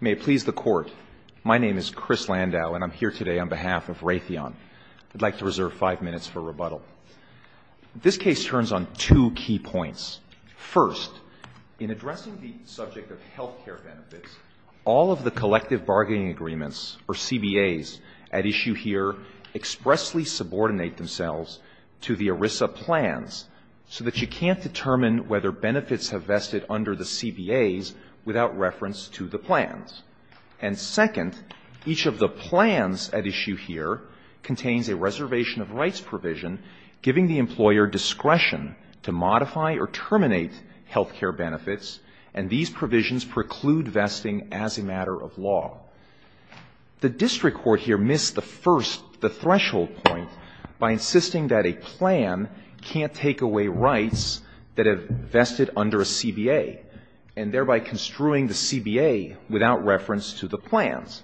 May it please the Court, my name is Chris Landau and I'm here today on behalf of Raytheon. I'd like to reserve five minutes for rebuttal. This case turns on two key points. First, in addressing the subject of health care benefits, all of the collective bargaining agreements, or CBAs, at issue here expressly subordinate themselves to the ERISA plans so that you can't determine whether benefits have vested under the CBAs without reference to the plans. And second, each of the plans at issue here contains a reservation of rights provision giving the employer discretion to modify or terminate health care benefits, and these provisions preclude vesting as a matter of law. The district court here missed the first, the threshold point, by insisting that a plan can't take away rights that have vested under a CBA and thereby construing the CBA without reference to the plans.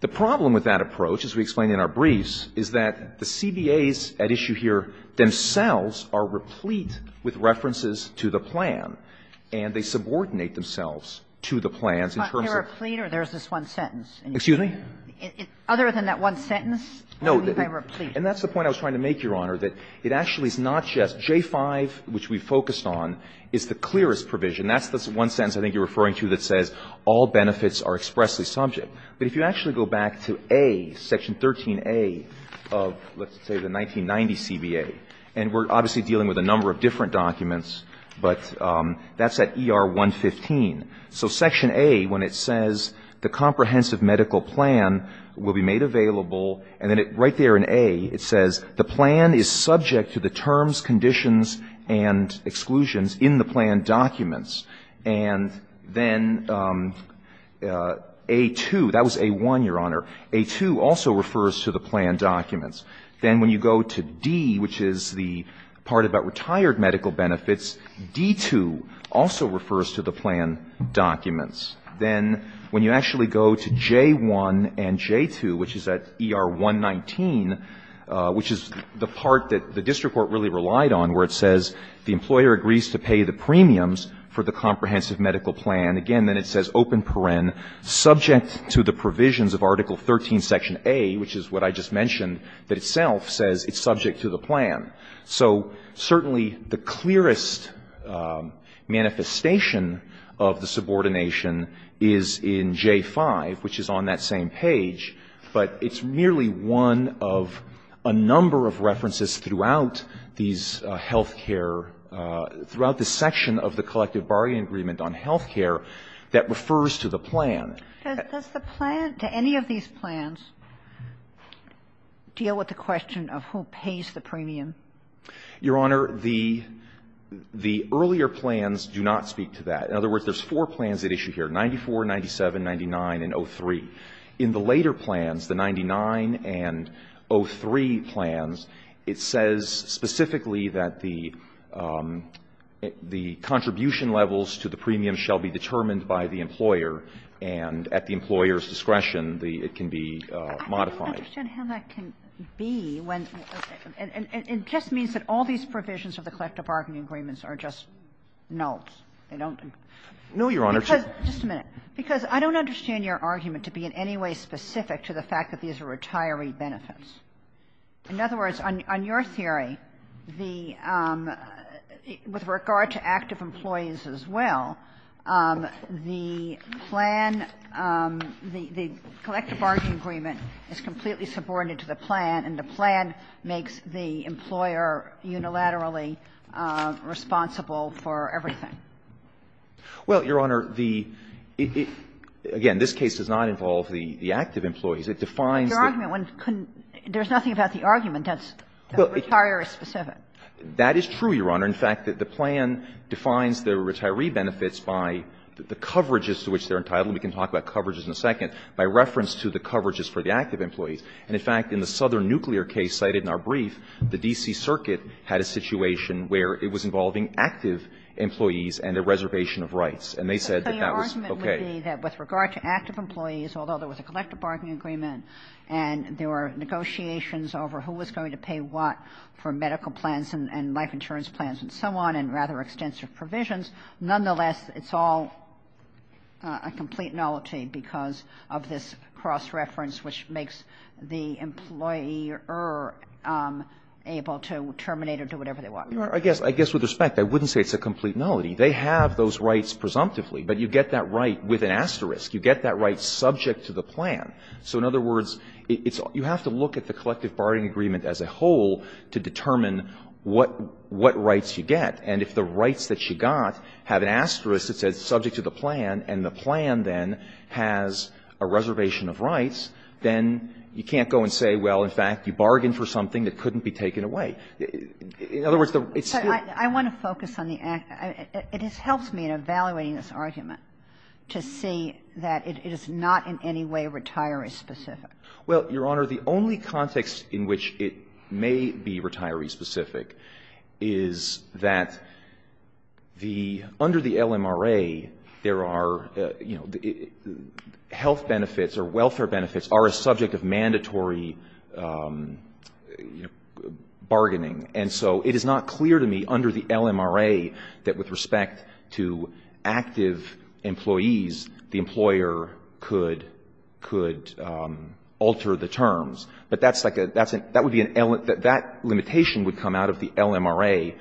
The problem with that approach, as we explained in our briefs, is that the CBAs at issue here themselves are replete with references to the plan, and they subordinate themselves to the plans in terms of the plan. Kagan. But they're replete, or there's this one sentence? Excuse me? Other than that one sentence, what do you mean by replete? And that's the point I was trying to make, Your Honor, that it actually is not just J-5, which we focused on, is the clearest provision. That's the one sentence I think you're referring to that says, all benefits are expressly subject. But if you actually go back to A, Section 13A of, let's say, the 1990 CBA, and we're obviously dealing with a number of different documents, but that's at ER 115. So Section A, when it says the comprehensive medical plan will be made available, and then right there in A it says the plan is subject to the terms, conditions, and exclusions in the plan documents. And then A-2, that was A-1, Your Honor. A-2 also refers to the plan documents. Then when you go to D, which is the part about retired medical benefits, D-2 also refers to the plan documents. Then when you actually go to J-1 and J-2, which is at ER 115, which is the part that the district court really relied on, where it says the employer agrees to pay the premiums for the comprehensive medical plan. Again, then it says open paren, subject to the provisions of Article 13, Section A, which is what I just mentioned, that itself says it's subject to the plan. So certainly the clearest manifestation of the subordination is in J-5, which is on that same page. But it's merely one of a number of references throughout these health care, throughout the section of the collective bargaining agreement on health care that refers to the plan. Does the plan, do any of these plans deal with the question of who pays the premium? Your Honor, the earlier plans do not speak to that. In other words, there's four plans at issue here, 94, 97, 99, and 03. In the later plans, the 99 and 03 plans, it says specifically that the contribution levels to the premiums shall be determined by the employer, and at the employer's discretion, it can be modified. I don't understand how that can be when the, and it just means that all these provisions of the collective bargaining agreements are just nulls. They don't. No, Your Honor. Just a minute, because I don't understand your argument to be in any way specific to the fact that these are retiree benefits. In other words, on your theory, the, with regard to active employees as well, the plan, the collective bargaining agreement is completely subordinated to the plan, and the plan makes the employer unilaterally responsible for everything. Well, Your Honor, the, again, this case does not involve the active employees. It defines the ---- Your argument, there's nothing about the argument that's retiree-specific. That is true, Your Honor. In fact, the plan defines the retiree benefits by the coverages to which they're entitled. We can talk about coverages in a second, by reference to the coverages for the active employees. And, in fact, in the Southern Nuclear case cited in our brief, the D.C. Circuit had a situation where it was involving active employees and a reservation of rights. And they said that that was okay. Your argument would be that with regard to active employees, although there was a collective bargaining agreement and there were negotiations over who was going to pay what for medical plans and life insurance plans and so on and rather extensive provisions, nonetheless, it's all a complete nullity because of this cross-reference which makes the employer able to terminate or do whatever they want. I guess, with respect, I wouldn't say it's a complete nullity. They have those rights presumptively, but you get that right with an asterisk. You get that right subject to the plan. So, in other words, it's you have to look at the collective bargaining agreement as a whole to determine what rights you get. And if the rights that you got have an asterisk that says subject to the plan and the plan, then, has a reservation of rights, then you can't go and say, well, in fact, you bargained for something that couldn't be taken away. In other words, it's still the same. But I want to focus on the act. It has helped me in evaluating this argument to see that it is not in any way retiree specific. Well, Your Honor, the only context in which it may be retiree specific is that the under the LMRA, there are, you know, health benefits or welfare benefits are a subject of mandatory bargaining. And so it is not clear to me under the LMRA that with respect to active employees, the employer could alter the terms. But that's like a that's a that would be an that limitation would come out of the LMRA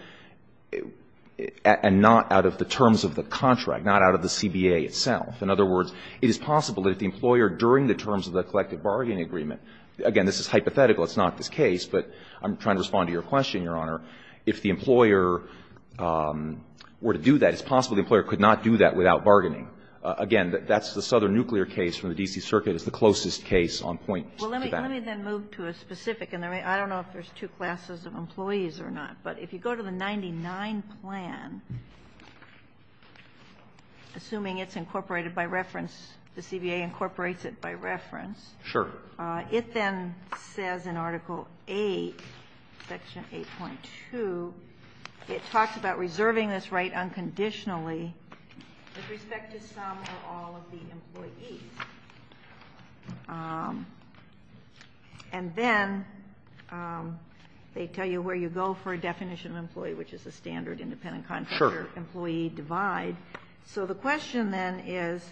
and not out of the terms of the contract, not out of the CBA itself. In other words, it is possible that the employer during the terms of the collective bargaining agreement, again, this is hypothetical. It's not this case. But I'm trying to respond to your question, Your Honor. If the employer were to do that, it's possible the employer could not do that without bargaining. Again, that's the Southern Nuclear case from the D.C. Circuit. It's the closest case on point to that. Well, let me then move to a specific. And I don't know if there's two classes of employees or not. But if you go to the 99 plan, assuming it's incorporated by reference, the CBA incorporates it by reference. Sure. It then says in Article 8, Section 8.2, it talks about reserving this right unconditionally with respect to some or all of the employees. And then they tell you where you go for a definition of employee, which is a standard independent contractor employee divide. So the question then is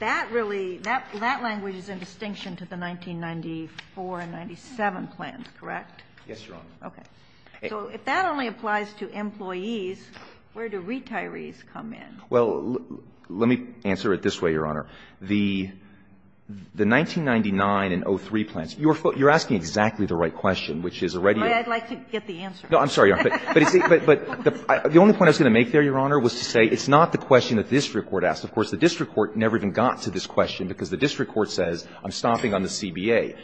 that really, that language is in distinction to the 1994 and 97 plans, correct? Yes, Your Honor. Okay. So if that only applies to employees, where do retirees come in? Well, let me answer it this way, Your Honor. The 1999 and 03 plans, you're asking exactly the right question, which is already a question. I'd like to get the answer. No, I'm sorry, Your Honor. But the only point I was going to make there, Your Honor, was to say it's not the question that the district court asked. Of course, the district court never even got to this question, because the district court says I'm stopping on the CBA.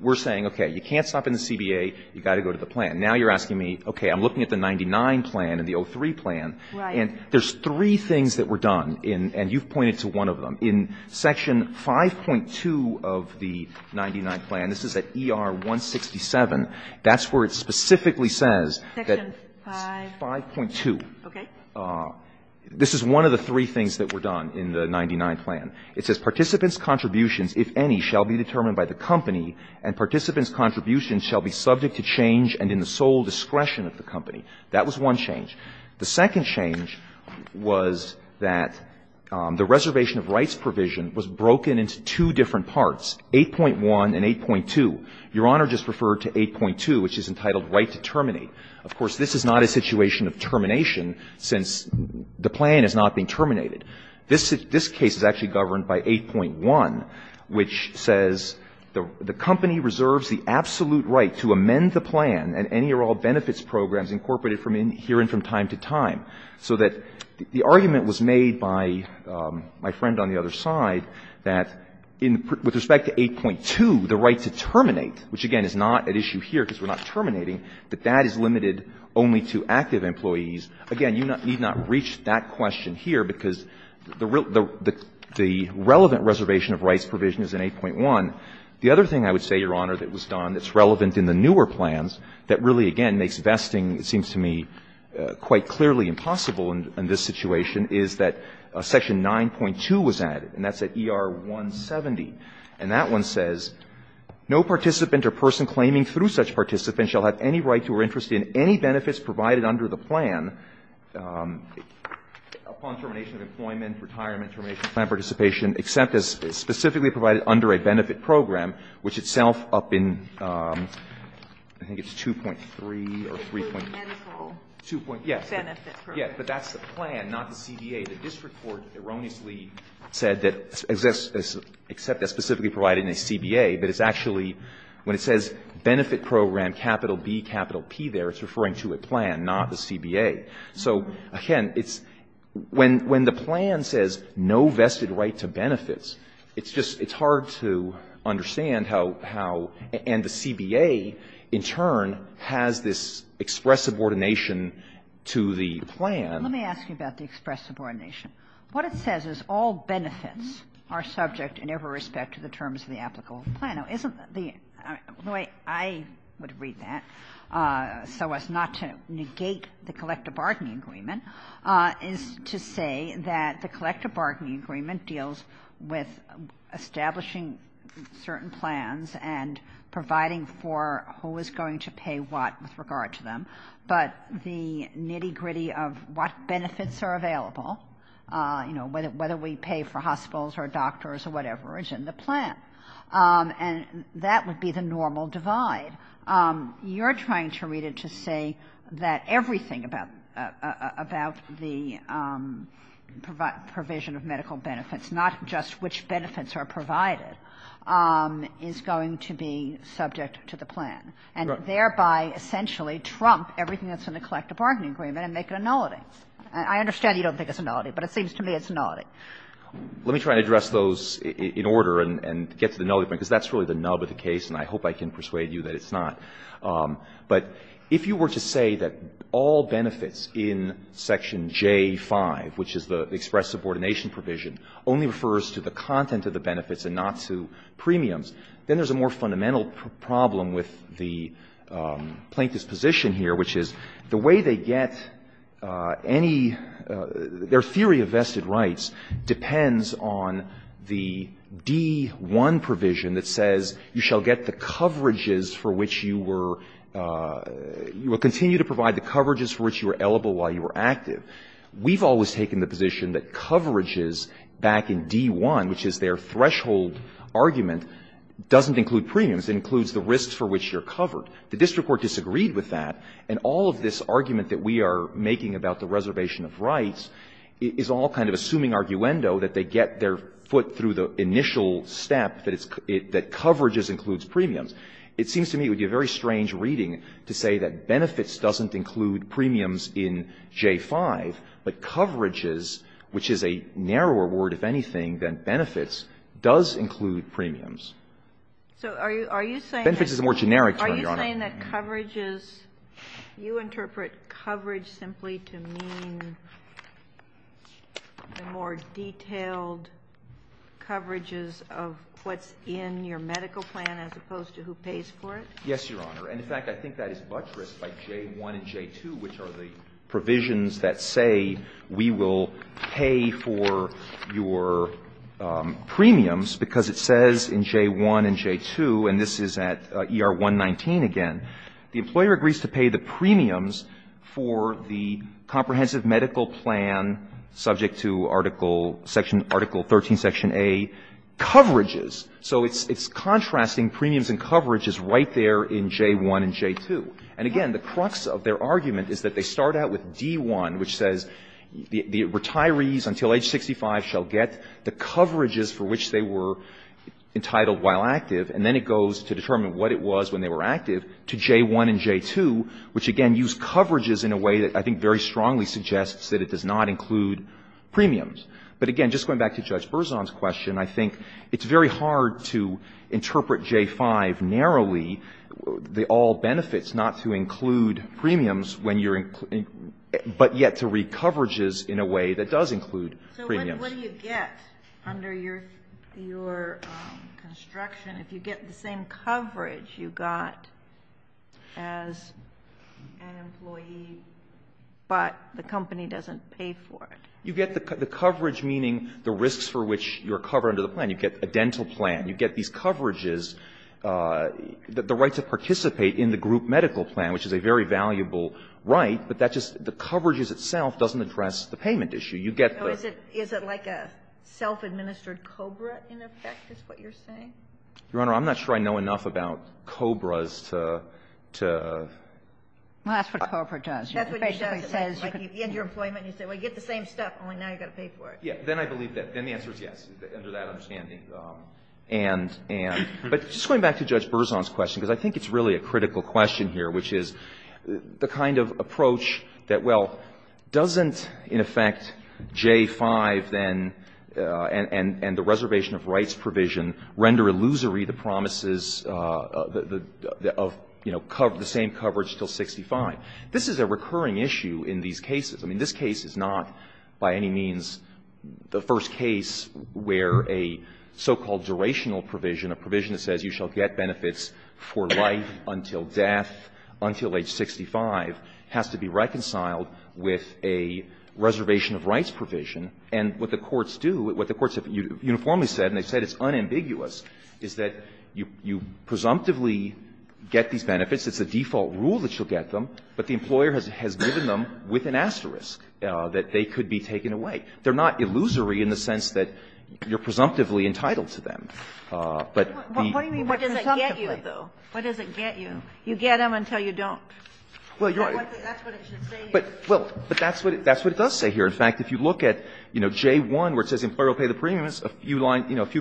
We're saying, okay, you can't stop on the CBA, you've got to go to the plan. Now you're asking me, okay, I'm looking at the 99 plan and the 03 plan. Right. And there's three things that were done, and you've pointed to one of them. In Section 5.2 of the 99 plan, this is at ER 167, that's where it specifically says that the 5.2. Section 5.2. Okay. This is one of the three things that were done in the 99 plan. It says, Participants' contributions, if any, shall be determined by the company, and participants' contributions shall be subject to change and in the sole discretion of the company. That was one change. The second change was that the reservation of rights provision was broken into two different parts, 8.1 and 8.2. Your Honor just referred to 8.2, which is entitled right to terminate. Of course, this is not a situation of termination, since the plan has not been terminated. This case is actually governed by 8.1, which says the company reserves the absolute right to amend the plan and any or all benefits programs incorporated from here and from time to time, so that the argument was made by my friend on the other side that, with respect to 8.2, the right to terminate, which, again, is not at issue here because we're not terminating, that that is limited only to active employees. Again, you need not reach that question here because the relevant reservation of rights provision is in 8.1. The other thing I would say, Your Honor, that was done that's relevant in the newer plans, that really, again, makes vesting, it seems to me, quite clearly impossible in this situation, is that Section 9.2 was added, and that's at ER 170. And that one says, No participant or person claiming through such participant shall have any right to or interest in any benefits provided under the plan upon termination of employment, retirement, termination of plan participation, except as specifically provided under a benefit program, which itself, up in, I think it's 2.3 or 3.2, 2.3, yes. But that's the plan, not the CBA. The district court erroneously said that, except as specifically provided in a CBA, but it's actually, when it says benefit program, capital B, capital P there, it's referring to a plan, not the CBA. So, again, it's, when the plan says no vested right to benefits, it's just, it's hard to understand how, how, and the CBA, in turn, has this express subordination to the plan. Let me ask you about the express subordination. What it says is all benefits are subject in every respect to the terms of the applicable plan. Now, isn't the, the way I would read that, so as not to negate the collective bargaining agreement, is to say that the collective bargaining agreement deals with establishing certain plans and providing for who is going to pay what with regard to them, but the nitty-gritty of what benefits are available, you know, whether we pay for hospitals or doctors or whatever, is in the plan. And that would be the normal divide. You're trying to read it to say that everything about, about the provision of medical benefits, not just which benefits are provided, is going to be subject to the plan, and thereby essentially trump everything that's in the collective bargaining agreement and make it a nullity. I understand you don't think it's a nullity, but it seems to me it's a nullity. Let me try to address those in order and get to the nullity point, because that's really the nub of the case, and I hope I can persuade you that it's not. But if you were to say that all benefits in Section J-5, which is the express subordination provision, only refers to the content of the benefits and not to premiums, then there's a more fundamental problem with the plaintiff's position here, which is the way they get any — their theory of vested rights depends on the D-1 provision that says you shall get the coverages for which you were — you will continue to provide the coverages for which you were eligible while you were active. We've always taken the position that coverages back in D-1, which is their threshold argument, doesn't include premiums. It includes the risks for which you're covered. The district court disagreed with that, and all of this argument that we are making about the reservation of rights is all kind of assuming arguendo that they get their foot through the initial step that it's — that coverages includes premiums. It seems to me it would be a very strange reading to say that benefits doesn't include premiums in J-5, but coverages, which is a narrower word, if anything, than benefits, does include premiums. Benefits is a more generic term, Your Honor. Are you saying that coverages — you interpret coverage simply to mean the more detailed coverages of what's in your medical plan as opposed to who pays for it? Yes, Your Honor. And, in fact, I think that is buttressed by J-1 and J-2, which are the provisions that say we will pay for your premiums, because it says in J-1 and J-2, and this is at ER 119 again, the employer agrees to pay the premiums for the comprehensive medical plan subject to Article 13, Section A coverages. So it's contrasting premiums and coverages right there in J-1 and J-2. And, again, the crux of their argument is that they start out with D-1, which says the retirees until age 65 shall get the coverages for which they were entitled while active, and then it goes to determine what it was when they were active to J-1 and J-2, which, again, use coverages in a way that I think very strongly suggests that it does not include premiums. But, again, just going back to Judge Berzon's question, I think it's very hard to interpret J-5 narrowly, the all benefits, not to include premiums, but yet to read coverages in a way that does include premiums. So what do you get under your construction if you get the same coverage you got as an employee, but the company doesn't pay for it? You get the coverage, meaning the risks for which you're covered under the plan. You get a dental plan. You get these coverages. The right to participate in the group medical plan, which is a very valuable right, but that just the coverages itself doesn't address the payment issue. You get the ---- Is it like a self-administered COBRA, in effect, is what you're saying? Your Honor, I'm not sure I know enough about COBRAs to ---- Well, that's what COBRA does. It basically says you end your employment and you say, well, you get the same stuff, only now you've got to pay for it. Then I believe that the answer is yes, under that understanding. But just going back to Judge Berzon's question, because I think it's really a critical question here, which is the kind of approach that, well, doesn't, in effect, J-5 then and the reservation of rights provision render illusory the promises of, you know, the same coverage until 65. This is a recurring issue in these cases. I mean, this case is not by any means the first case where a so-called durational provision, a provision that says you shall get benefits for life until death until age 65, has to be reconciled with a reservation of rights provision. And what the courts do, what the courts have uniformly said, and they've said it's unambiguous, is that you presumptively get these benefits, it's a default rule that you shall get them, but the employer has given them with an asterisk, that they could be taken away. They're not illusory in the sense that you're presumptively entitled to them. But the presumptively. But what do you mean by presumptively? What does it get you, though? What does it get you? You get them until you don't. Well, you're right. That's what it should say here. Well, but that's what it does say here. In fact, if you look at, you know, J-1, where it says the employer will pay the premiums, a few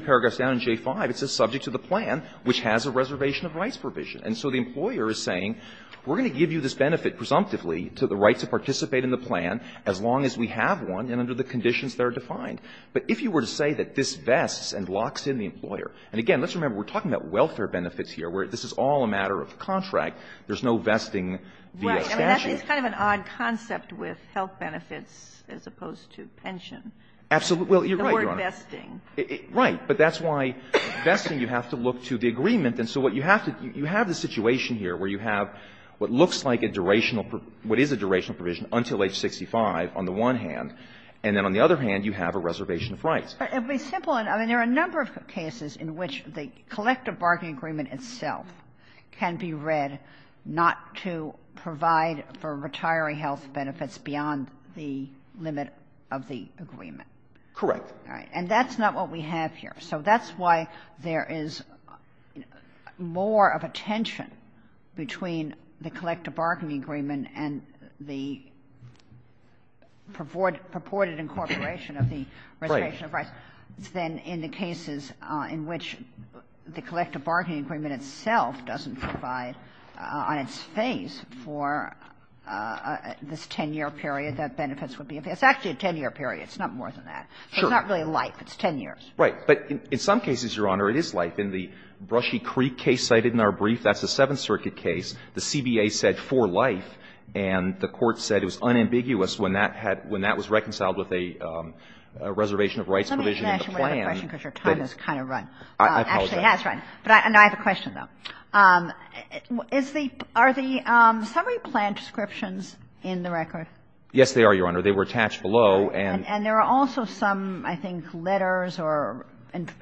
paragraphs down in J-5, it says subject to the plan, which has a reservation of rights provision. And so the employer is saying, we're going to give you this benefit presumptively to the right to participate in the plan as long as we have one and under the conditions that are defined. But if you were to say that this vests and locks in the employer, and again, let's remember, we're talking about welfare benefits here, where this is all a matter of contract, there's no vesting via statute. Right. I mean, that's kind of an odd concept with health benefits as opposed to pension. Absolutely. Well, you're right, Your Honor. The word vesting. Right. But that's why vesting, you have to look to the agreement. And so what you have to do, you have the situation here where you have what looks like a durational, what is a durational provision until age 65 on the one hand, and then on the other hand you have a reservation of rights. It would be simple. I mean, there are a number of cases in which the collective bargaining agreement itself can be read not to provide for retiree health benefits beyond the limit of the agreement. Correct. All right. And that's not what we have here. So that's why there is more of a tension between the collective bargaining agreement and the purported incorporation of the reservation of rights than in the cases in which the collective bargaining agreement itself doesn't provide on its face for this 10-year period that benefits would be. It's actually a 10-year period. It's not more than that. Sure. It's not really life. It's 10 years. Right. But in some cases, Your Honor, it is life. In the Brushy Creek case cited in our brief, that's a Seventh Circuit case. The CBA said for life, and the Court said it was unambiguous when that had – when that was reconciled with a reservation of rights provision in the plan. Let me ask you one other question because your time has kind of run. I apologize. Actually, it has run. But I have a question, though. Is the – are the summary plan descriptions in the record? Yes, they are, Your Honor. They were attached below. And there are also some, I think, letters or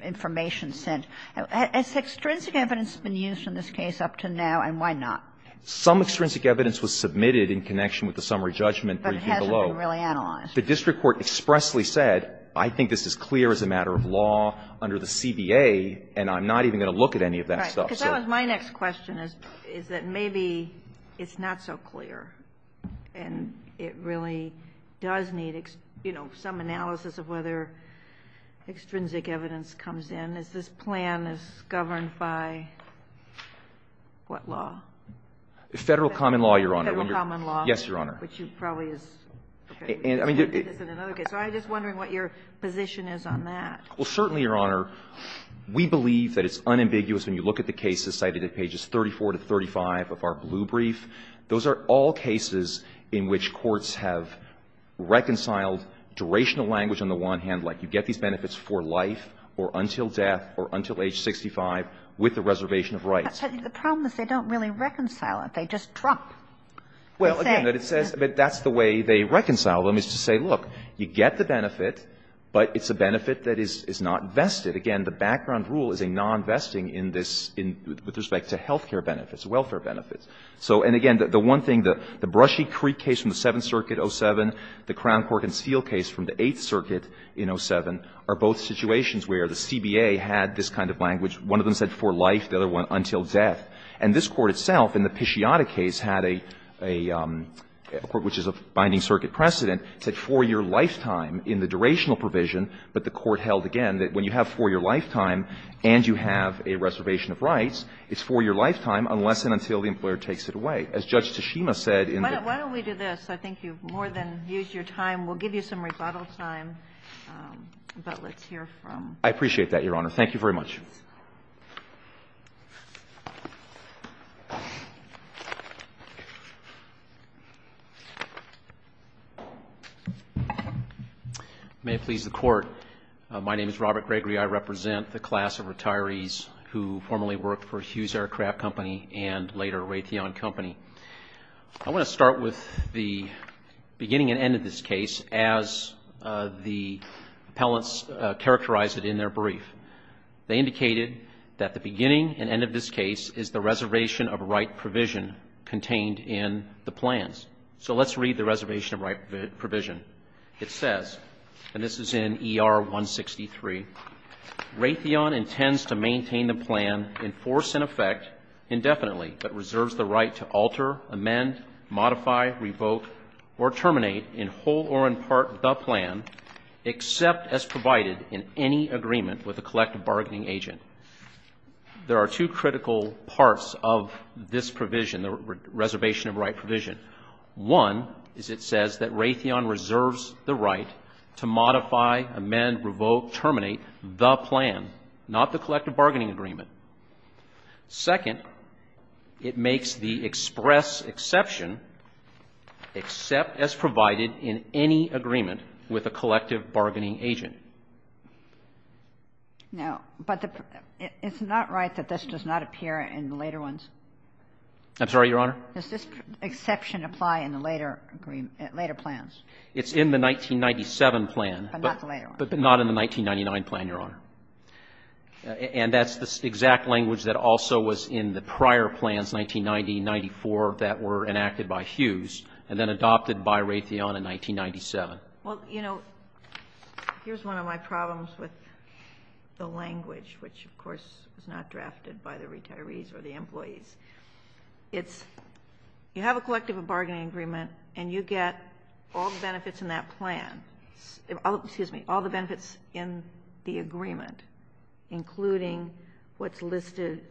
information sent. Has extrinsic evidence been used in this case up to now, and why not? Some extrinsic evidence was submitted in connection with the summary judgment that you see below. But it hasn't been really analyzed. The district court expressly said, I think this is clear as a matter of law under the CBA, and I'm not even going to look at any of that stuff. Right. Because that was my next question, is that maybe it's not so clear, and it really does need, you know, some analysis of whether extrinsic evidence comes in. Is this plan is governed by what law? Federal common law, Your Honor. Federal common law. Yes, Your Honor. Which you probably is trying to do this in another case. So I'm just wondering what your position is on that. Well, certainly, Your Honor, we believe that it's unambiguous when you look at the cases cited at pages 34 to 35 of our blue brief. Those are all cases in which courts have reconciled durational language on the one hand, like you get these benefits for life or until death or until age 65 with the reservation of rights. But the problem is they don't really reconcile it. They just drop. Well, again, it says that that's the way they reconcile them, is to say, look, you get the benefit, but it's a benefit that is not vested. Again, the background rule is a nonvesting in this with respect to health care benefits, welfare benefits. So, and again, the one thing, the Brushy Creek case from the Seventh Circuit, 07, the Crown Court and Steele case from the Eighth Circuit in 07 are both situations where the CBA had this kind of language. One of them said for life. The other one, until death. And this Court itself in the Pisciata case had a court, which is a binding circuit precedent, said for your lifetime in the durational provision, but the Court held it's for your lifetime unless and until the employer takes it away. As Judge Tashima said in the case. Why don't we do this? I think you've more than used your time. We'll give you some rebuttal time, but let's hear from. I appreciate that, Your Honor. Thank you very much. May it please the Court. My name is Robert Gregory. I represent the class of retirees who formerly worked for Hughes Aircraft Company and later Raytheon Company. I want to start with the beginning and end of this case as the appellants characterized it in their brief. They indicated that the beginning and end of this case is the reservation of right provision contained in the plans. So let's read the reservation of right provision. It says, and this is in ER 163, Raytheon intends to maintain the plan in force and effect indefinitely, but reserves the right to alter, amend, modify, revoke or terminate in whole or in part the plan except as provided in any agreement with a collective bargaining agent. There are two critical parts of this provision, the reservation of right provision. One is it says that Raytheon reserves the right to modify, amend, revoke, terminate the plan, not the collective bargaining agreement. Second, it makes the express exception except as provided in any agreement with a collective bargaining agent. No, but it's not right that this does not appear in the later ones. I'm sorry, Your Honor? Does this exception apply in the later plans? It's in the 1997 plan. But not the later one. But not in the 1999 plan, Your Honor. And that's the exact language that also was in the prior plans, 1990, 1994, that were enacted by Hughes and then adopted by Raytheon in 1997. Well, you know, here's one of my problems with the language, which, of course, was not drafted by the retirees or the employees. It's you have a collective bargaining agreement and you get all the benefits in that plan, excuse me, all the benefits in the agreement, including what's listed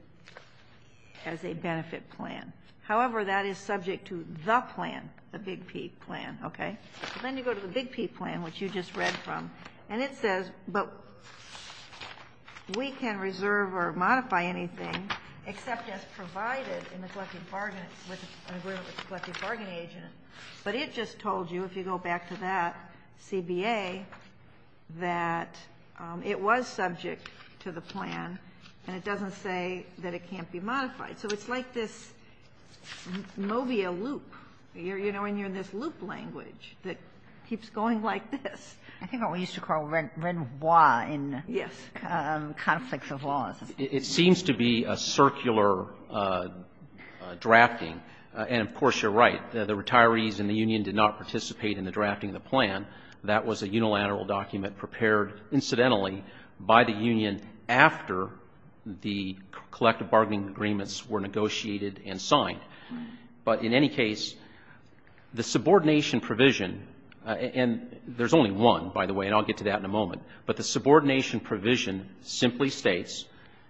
as a benefit plan. However, that is subject to the plan, the Big P plan, okay? Then you go to the Big P plan, which you just read from, and it says, but we can't reserve or modify anything except as provided in the collective bargaining with an agreement with the collective bargaining agent. But it just told you, if you go back to that CBA, that it was subject to the plan and it doesn't say that it can't be modified. So it's like this mobia loop, you know, and you're in this loop language that keeps going like this. I think what we used to call Renoir in conflicts of laws. It seems to be a circular drafting. And, of course, you're right. The retirees in the union did not participate in the drafting of the plan. That was a unilateral document prepared, incidentally, by the union after the collective bargaining agreements were negotiated and signed. But in any case, the subordination provision, and there's only one, by the way, and I'll get to that in a moment. But the subordination provision simply states,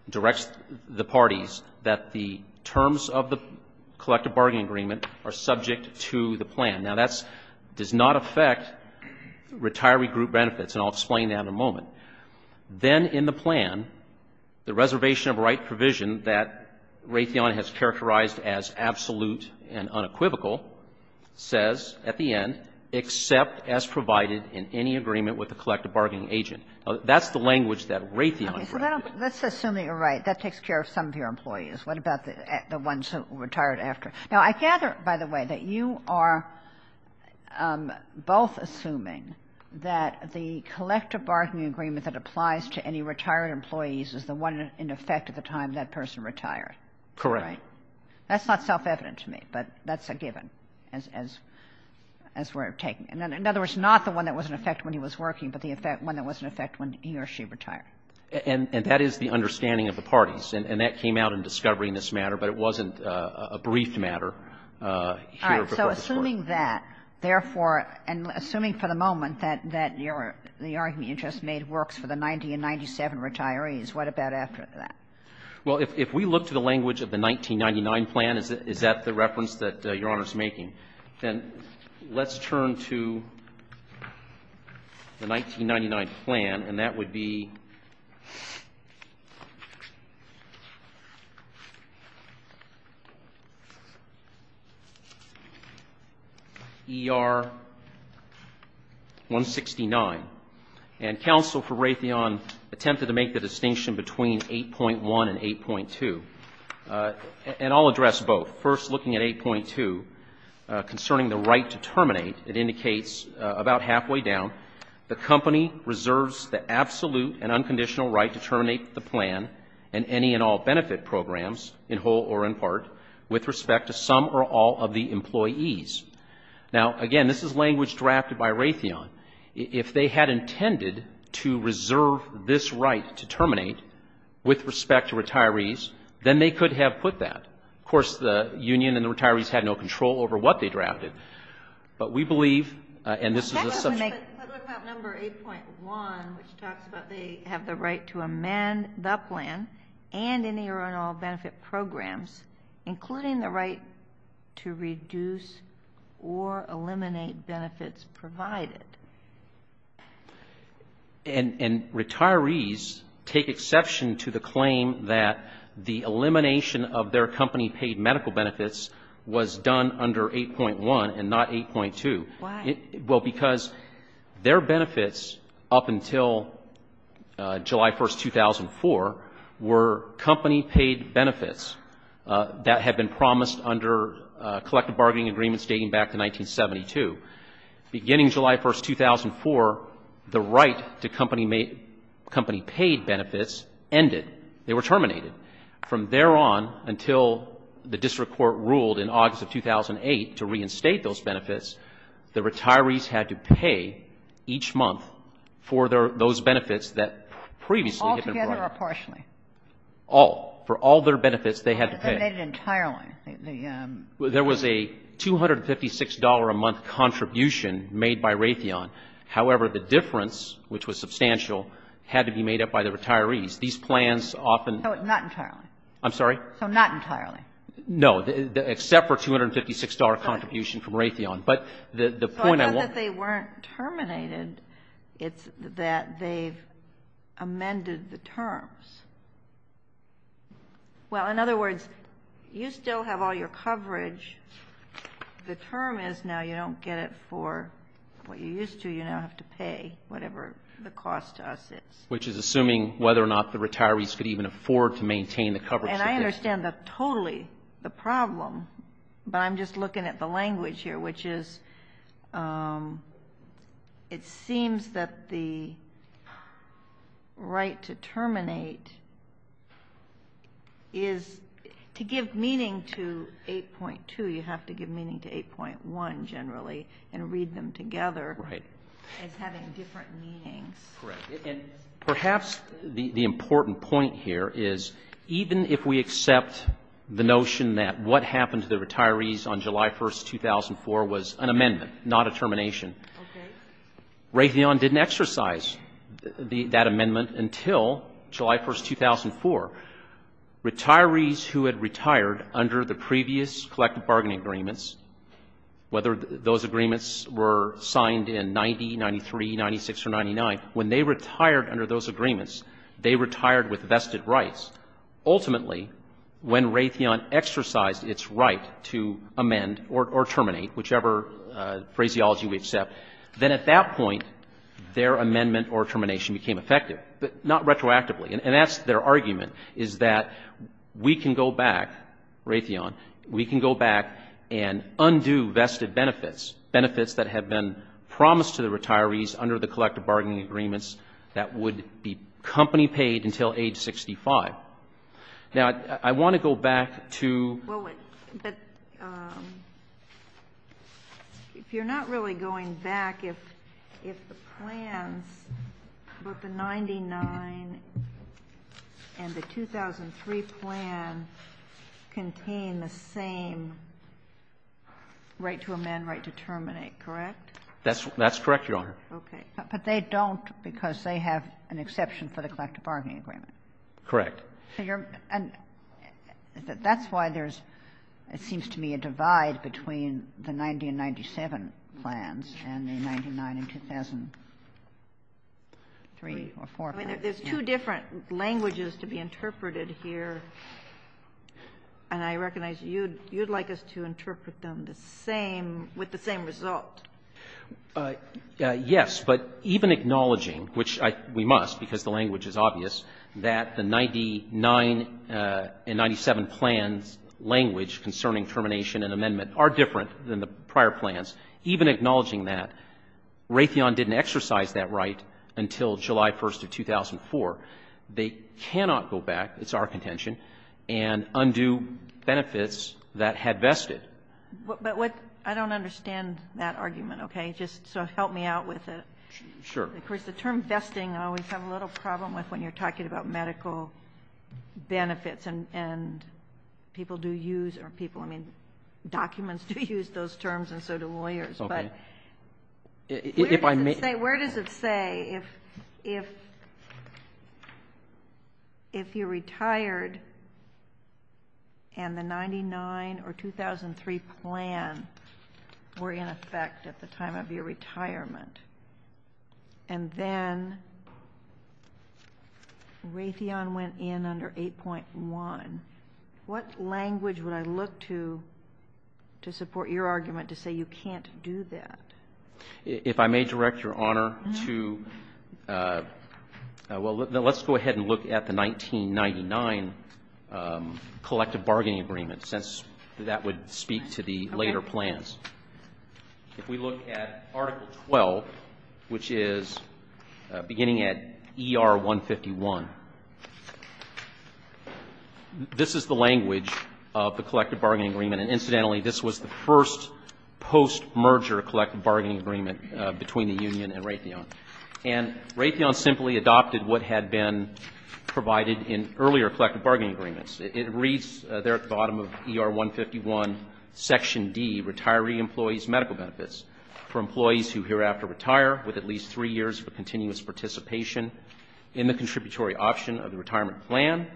directs the parties, that the terms of the collective bargaining agreement are subject to the plan. Now, that does not affect retiree group benefits, and I'll explain that in a moment. Then in the plan, the reservation of right provision that Raytheon has absolute and unequivocal says at the end, except as provided in any agreement with the collective bargaining agent. That's the language that Raytheon has. Okay. So let's assume that you're right. That takes care of some of your employees. What about the ones who retired after? Now, I gather, by the way, that you are both assuming that the collective bargaining agreement that applies to any retired employees is the one in effect at the time that person retired. Correct. That's not self-evident to me, but that's a given, as we're taking. In other words, not the one that was in effect when he was working, but the one that was in effect when he or she retired. And that is the understanding of the parties. And that came out in discovery in this matter, but it wasn't a brief matter. All right. So assuming that, therefore, and assuming for the moment that the argument you just made works for the 90 and 97 retirees, what about after that? Well, if we look to the language of the 1999 plan, is that the reference that Your Honor is making? Then let's turn to the 1999 plan, and that would be ER 169. And counsel for Raytheon attempted to make the distinction between 8.1 and 8.2. And I'll address both. First, looking at 8.2, concerning the right to terminate, it indicates about halfway down. The company reserves the absolute and unconditional right to terminate the plan and any and all benefit programs, in whole or in part, with respect to some or all of the employees. Now, again, this is language drafted by Raytheon. If they had intended to reserve this right to terminate with respect to retirees, then they could have put that. Of course, the union and the retirees had no control over what they drafted. But we believe, and this is a subject... But what about number 8.1, which talks about they have the right to amend the plan and any or all benefit programs, including the right to reduce or eliminate benefits provided? And retirees take exception to the claim that the elimination of their company paid medical benefits was done under 8.1 and not 8.2. Why? Well, because their benefits up until July 1, 2004, were company paid benefits that had been promised under collective bargaining agreements dating back to 1972. Beginning July 1, 2004, the right to company paid benefits ended. They were terminated. From there on until the district court ruled in August of 2008 to reinstate those benefits, the retirees had to pay each month for those benefits that previously had been provided. Altogether or partially? All. For all their benefits, they had to pay. They made it entirely. There was a $256 a month contribution made by Raytheon. However, the difference, which was substantial, had to be made up by the retirees. These plans often... Not entirely. I'm sorry? So not entirely. No, except for $256 contribution from Raytheon. But the point I want... It's not that they weren't terminated. It's that they've amended the terms. Well, in other words, you still have all your coverage. The term is now you don't get it for what you used to. You now have to pay whatever the cost to us is. Which is assuming whether or not the retirees could even afford to maintain the coverage. And I understand that totally, the problem. But I'm just looking at the language here, which is it seems that the right to terminate is... To give meaning to 8.2, you have to give meaning to 8.1 generally and read them together. Right. As having different meanings. Correct. And perhaps the important point here is even if we accept the notion that what happened to the retirees on July 1, 2004 was an amendment, not a termination, Raytheon didn't exercise that amendment until July 1, 2004. Retirees who had retired under the previous collective bargaining agreements, whether those agreements were signed in 90, 93, 96, or 99, when they retired under those agreements, they retired with vested rights. Ultimately, when Raytheon exercised its right to amend or terminate, whichever phraseology we accept, then at that point, their amendment or termination became effective, but not retroactively. And that's their argument, is that we can go back, Raytheon, we can go back and undo vested benefits, benefits that have been promised to the retirees under the collective bargaining agreements that would be company paid until age 65. Now, I want to go back to... Well, but if you're not really going back, if the plans for the 99 and the 2003 plan contain the same right to amend, right to terminate, correct? That's correct, Your Honor. Okay. But they don't because they have an exception for the collective bargaining agreement. Correct. And that's why there's, it seems to me, a divide between the 90 and 97 plans and the 99 and 2003 or 4. I mean, there's two different languages to be interpreted here, and I recognize you'd like us to interpret them the same, with the same result. Yes, but even acknowledging, which we must because the language is obvious, that the 99 and 97 plans' language concerning termination and amendment are different than the prior plans, even acknowledging that Raytheon didn't exercise that right until July 1st of 2004. They cannot go back, it's our contention, and undo benefits that had vested. But what, I don't understand that argument, okay? Just, so help me out with it. Sure. Of course, the term vesting I always have a little problem with when you're talking about medical benefits and people do use, or people, I mean, documents do use those terms and so do lawyers. Okay. Where does it say if you retired and the 99 or 2003 plan were in effect at the time of your retirement, and then Raytheon went in under 8.1, what language would I look to to support your argument to say you can't do that? If I may direct your honor to, well, let's go ahead and look at the 1999 collective bargaining agreement, since that would speak to the later plans. Okay. If we look at Article 12, which is beginning at ER 151, this is the language of the collective bargaining agreement. And incidentally, this was the first post-merger collective bargaining agreement between the union and Raytheon. And Raytheon simply adopted what had been provided in earlier collective bargaining agreements. It reads there at the bottom of ER 151 Section D, retiree employees' medical benefits for employees who hereafter retire with at least three years of continuous participation in the contributory option of the retirement plan,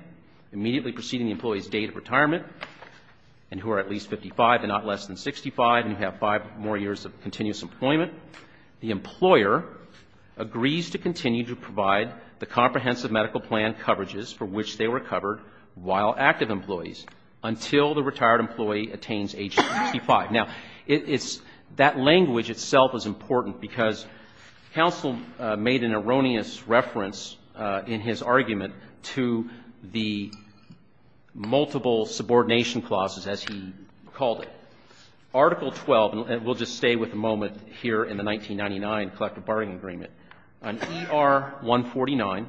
immediately preceding the employee's date of retirement, and who are at least 55 and not less than 65, and who have five more years of continuous employment. The employer agrees to continue to provide the comprehensive medical plan coverages for which they were covered while active employees until the retired employee attains age 65. Now, that language itself is important because counsel made an erroneous reference in his argument to the multiple subordination clauses, as he called it. Article 12, and we'll just stay with a moment here in the 1999 collective bargaining agreement. On ER 149,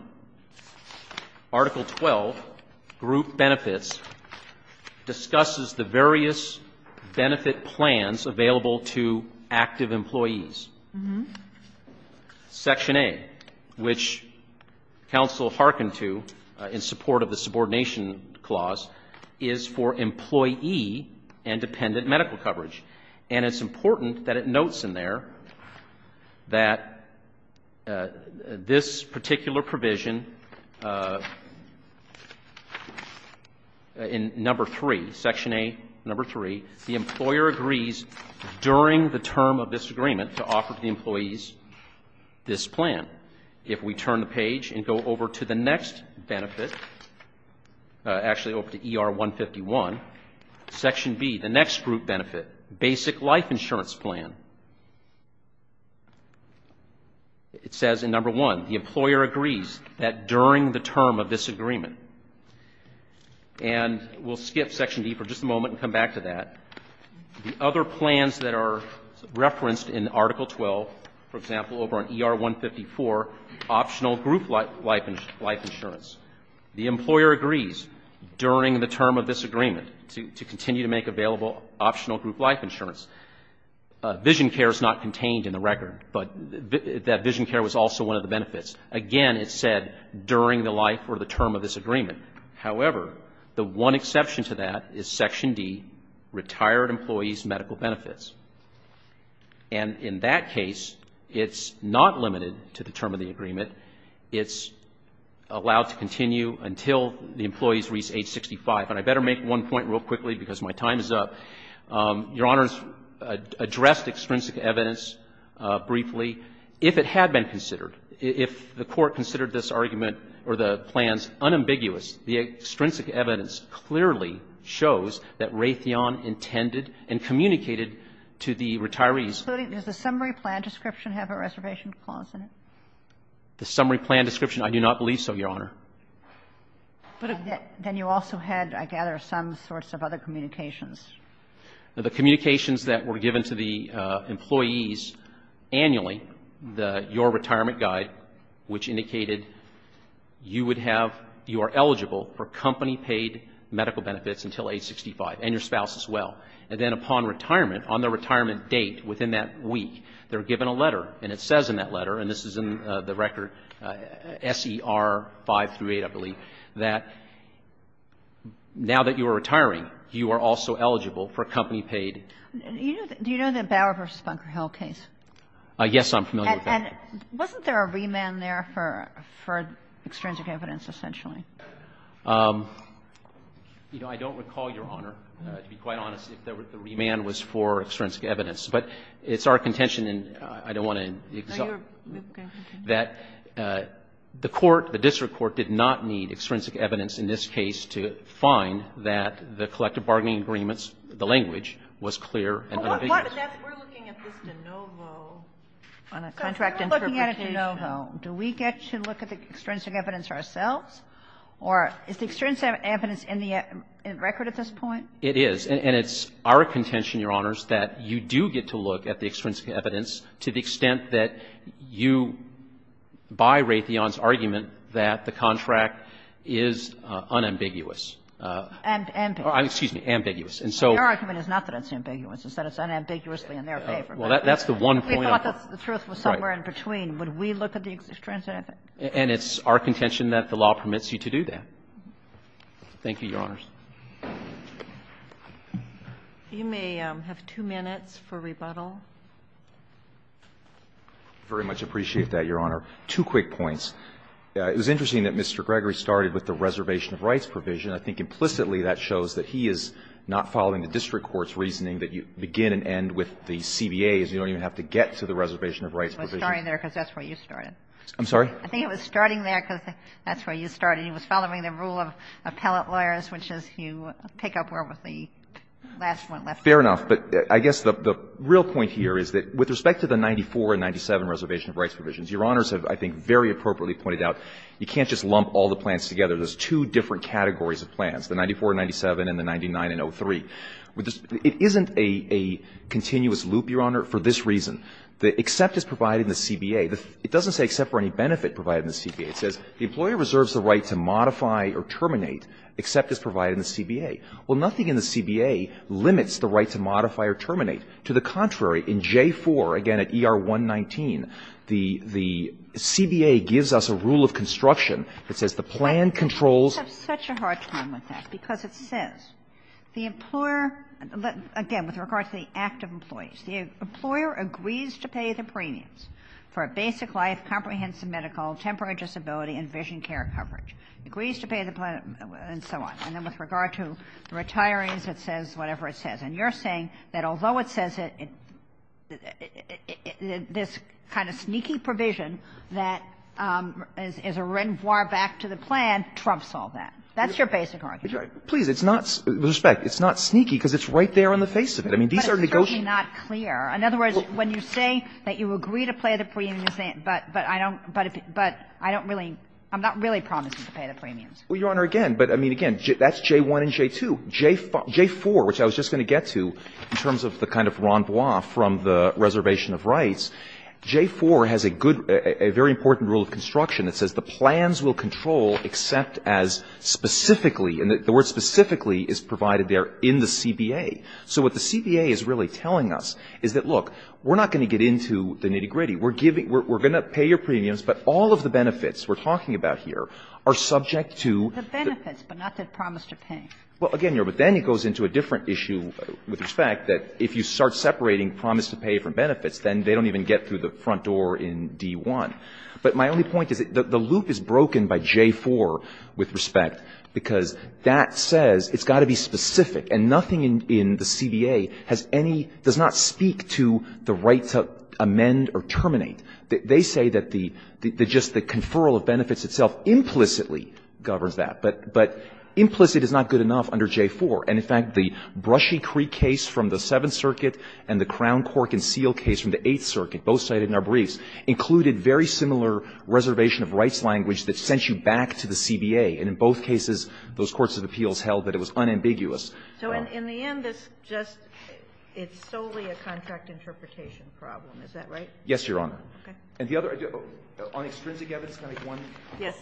Article 12, group benefits, discusses the various benefit plans available to active employees. Section A, which counsel hearkened to in support of the subordination clause, is for employee and dependent medical coverage. And it's important that it notes in there that this particular provision in Number 3, Section A, Number 3, the employer agrees during the term of this agreement to offer the employees this plan. If we turn the page and go over to the next benefit, actually over to ER 151, Section B, the next group benefit, basic life insurance plan, it says in Number 1, the employer agrees that during the term of this agreement. And we'll skip Section B for just a moment and come back to that. The other plans that are referenced in Article 12, for example, over on ER 154, optional group life insurance, the employer agrees during the term of this agreement to continue to make available optional group life insurance. Vision care is not contained in the record, but that vision care was also one of the benefits. Again, it said during the life or the term of this agreement. However, the one exception to that is Section D, retired employees' medical benefits. And in that case, it's not limited to the term of the agreement. It's allowed to continue until the employees reach age 65. And I better make one point real quickly because my time is up. Your Honors addressed extrinsic evidence briefly. If it had been considered, if the Court considered this argument or the plans unambiguous, the extrinsic evidence clearly shows that Raytheon intended and communicated to the retirees. Does the summary plan description have a reservation clause in it? The summary plan description? I do not believe so, Your Honor. Then you also had, I gather, some sorts of other communications. The communications that were given to the employees annually, your retirement guide, which indicated you would have, you are eligible for company-paid medical benefits until age 65 and your spouse as well. And then upon retirement, on the retirement date within that week, they were given a letter, and it says in that letter, and this is in the record, S.E.R. 5-8, I believe, that now that you are retiring, you are also eligible for company-paid. Do you know the Bauer v. Funker Hill case? Yes, I'm familiar with that. And wasn't there a remand there for extrinsic evidence, essentially? You know, I don't recall, Your Honor, to be quite honest, if the remand was for extrinsic evidence. But it's our contention, and I don't want to exaggerate, that the court, the district court, did not need extrinsic evidence in this case to find that the collective bargaining agreements, the language, was clear and unambiguous. But we're looking at this de novo on a contract interpretation. But we're looking at it de novo. Do we get to look at the extrinsic evidence ourselves? Or is the extrinsic evidence in the record at this point? It is. And it's our contention, Your Honors, that you do get to look at the extrinsic evidence to the extent that you birate the argument that the contract is unambiguous. Ambiguous. Excuse me. Ambiguous. And so the argument is not that it's ambiguous. It's that it's unambiguously in their favor. Well, that's the one point. We thought the truth was somewhere in between. Would we look at the extrinsic evidence? And it's our contention that the law permits you to do that. Thank you, Your Honors. You may have two minutes for rebuttal. I very much appreciate that, Your Honor. Two quick points. It was interesting that Mr. Gregory started with the reservation of rights provision. I think implicitly that shows that he is not following the district court's reasoning that you begin and end with the CBAs. You don't even have to get to the reservation of rights provision. It was starting there because that's where you started. I'm sorry? I think it was starting there because that's where you started. He was following the rule of appellate lawyers, which is you pick up where was the last one left. Fair enough. But I guess the real point here is that with respect to the 94 and 97 reservation of rights provisions, Your Honors have, I think, very appropriately pointed out you can't just lump all the plans together. There's two different categories of plans, the 94 and 97 and the 99 and 03. It isn't a continuous loop, Your Honor, for this reason. The except is provided in the CBA. It doesn't say except for any benefit provided in the CBA. It says the employer reserves the right to modify or terminate except as provided in the CBA. Well, nothing in the CBA limits the right to modify or terminate. To the contrary, in J-4, again at ER-119, the CBA gives us a rule of construction that says the plan controls. I have such a hard time with that because it says the employer, again, with regard to the active employees, the employer agrees to pay the premiums for a basic life, comprehensive medical, temporary disability and vision care coverage. Agrees to pay the plan and so on. And then with regard to the retirees, it says whatever it says. And you're saying that although it says it, this kind of sneaky provision that is a back to the plan trumps all that. That's your basic argument. Please, it's not sneaky because it's right there on the face of it. I mean, these are negotiations. But it's certainly not clear. In other words, when you say that you agree to pay the premiums, but I don't really – I'm not really promising to pay the premiums. Well, Your Honor, again, but I mean, again, that's J-1 and J-2. J-4, which I was just going to get to in terms of the kind of rambois from the reservation of rights, J-4 has a good – a very important rule of construction that says the plan will control except as specifically – and the word specifically is provided there in the CBA. So what the CBA is really telling us is that, look, we're not going to get into the nitty-gritty. We're giving – we're going to pay your premiums, but all of the benefits we're talking about here are subject to the – The benefits, but not the promise to pay. Well, again, Your Honor, but then it goes into a different issue with respect that if you start separating promise to pay from benefits, then they don't even get through the front door in D-1. But my only point is that the loop is broken by J-4 with respect because that says it's got to be specific, and nothing in the CBA has any – does not speak to the right to amend or terminate. They say that the – that just the conferral of benefits itself implicitly governs that. But implicit is not good enough under J-4. And, in fact, the Brushy Creek case from the Seventh Circuit and the Crown Cork and very similar reservation of rights language that sent you back to the CBA. And in both cases, those courts of appeals held that it was unambiguous. So in the end, this just – it's solely a contract interpretation problem. Is that right? Yes, Your Honor. Okay. And the other – on extrinsic evidence, can I make one? Yes.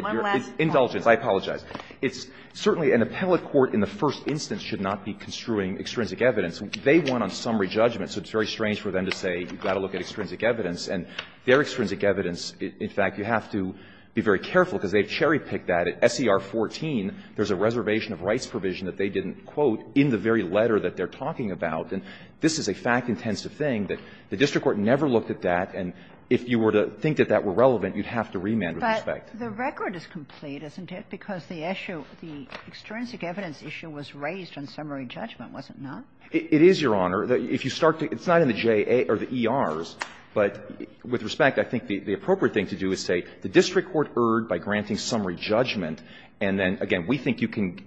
One last point. Indulgence. I apologize. It's – certainly an appellate court in the first instance should not be construing extrinsic evidence. They won on summary judgment, so it's very strange for them to say you've got to look at extrinsic evidence, and their extrinsic evidence, in fact, you have to be very careful because they've cherry-picked that. At SER 14, there's a reservation of rights provision that they didn't quote in the very letter that they're talking about. And this is a fact-intensive thing that the district court never looked at that. And if you were to think that that were relevant, you'd have to remand with respect. But the record is complete, isn't it, because the issue – the extrinsic evidence issue was raised on summary judgment, was it not? It is, Your Honor. If you start to – it's not in the J.A. or the E.R.'s, but with respect, I think the appropriate thing to do is say the district court erred by granting summary judgment, and then, again, we think you can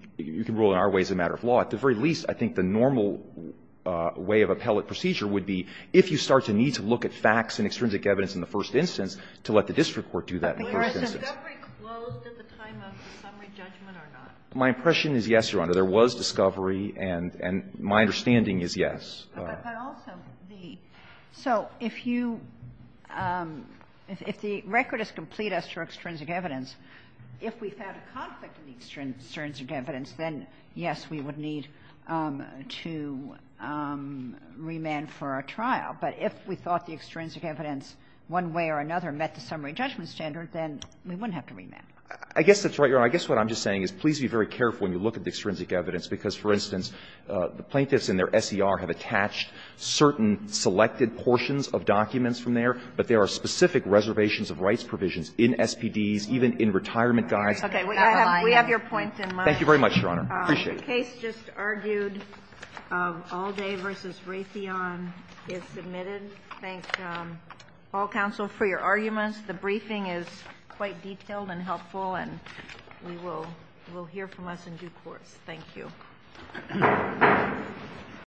rule in our way as a matter of law. At the very least, I think the normal way of appellate procedure would be, if you start to need to look at facts and extrinsic evidence in the first instance, to let the district court do that in the first instance. Was discovery closed at the time of the summary judgment or not? My impression is yes, Your Honor. There was discovery, and my understanding is yes. But also the – so if you – if the record is complete as to extrinsic evidence, if we found a conflict in the extrinsic evidence, then, yes, we would need to remand for a trial, but if we thought the extrinsic evidence one way or another met the summary judgment standard, then we wouldn't have to remand. I guess that's right, Your Honor. I guess what I'm just saying is please be very careful when you look at the extrinsic evidence, because, for instance, the plaintiffs in their SER have attached certain selected portions of documents from there, but there are specific reservations of rights provisions in SPDs, even in retirement guides. Okay. We have your points in mind. Thank you very much, Your Honor. I appreciate it. The case just argued, Alde v. Raytheon, is submitted. Thank you, all counsel, for your arguments. The briefing is quite detailed and helpful, and we will hear from us in due course. Thank you.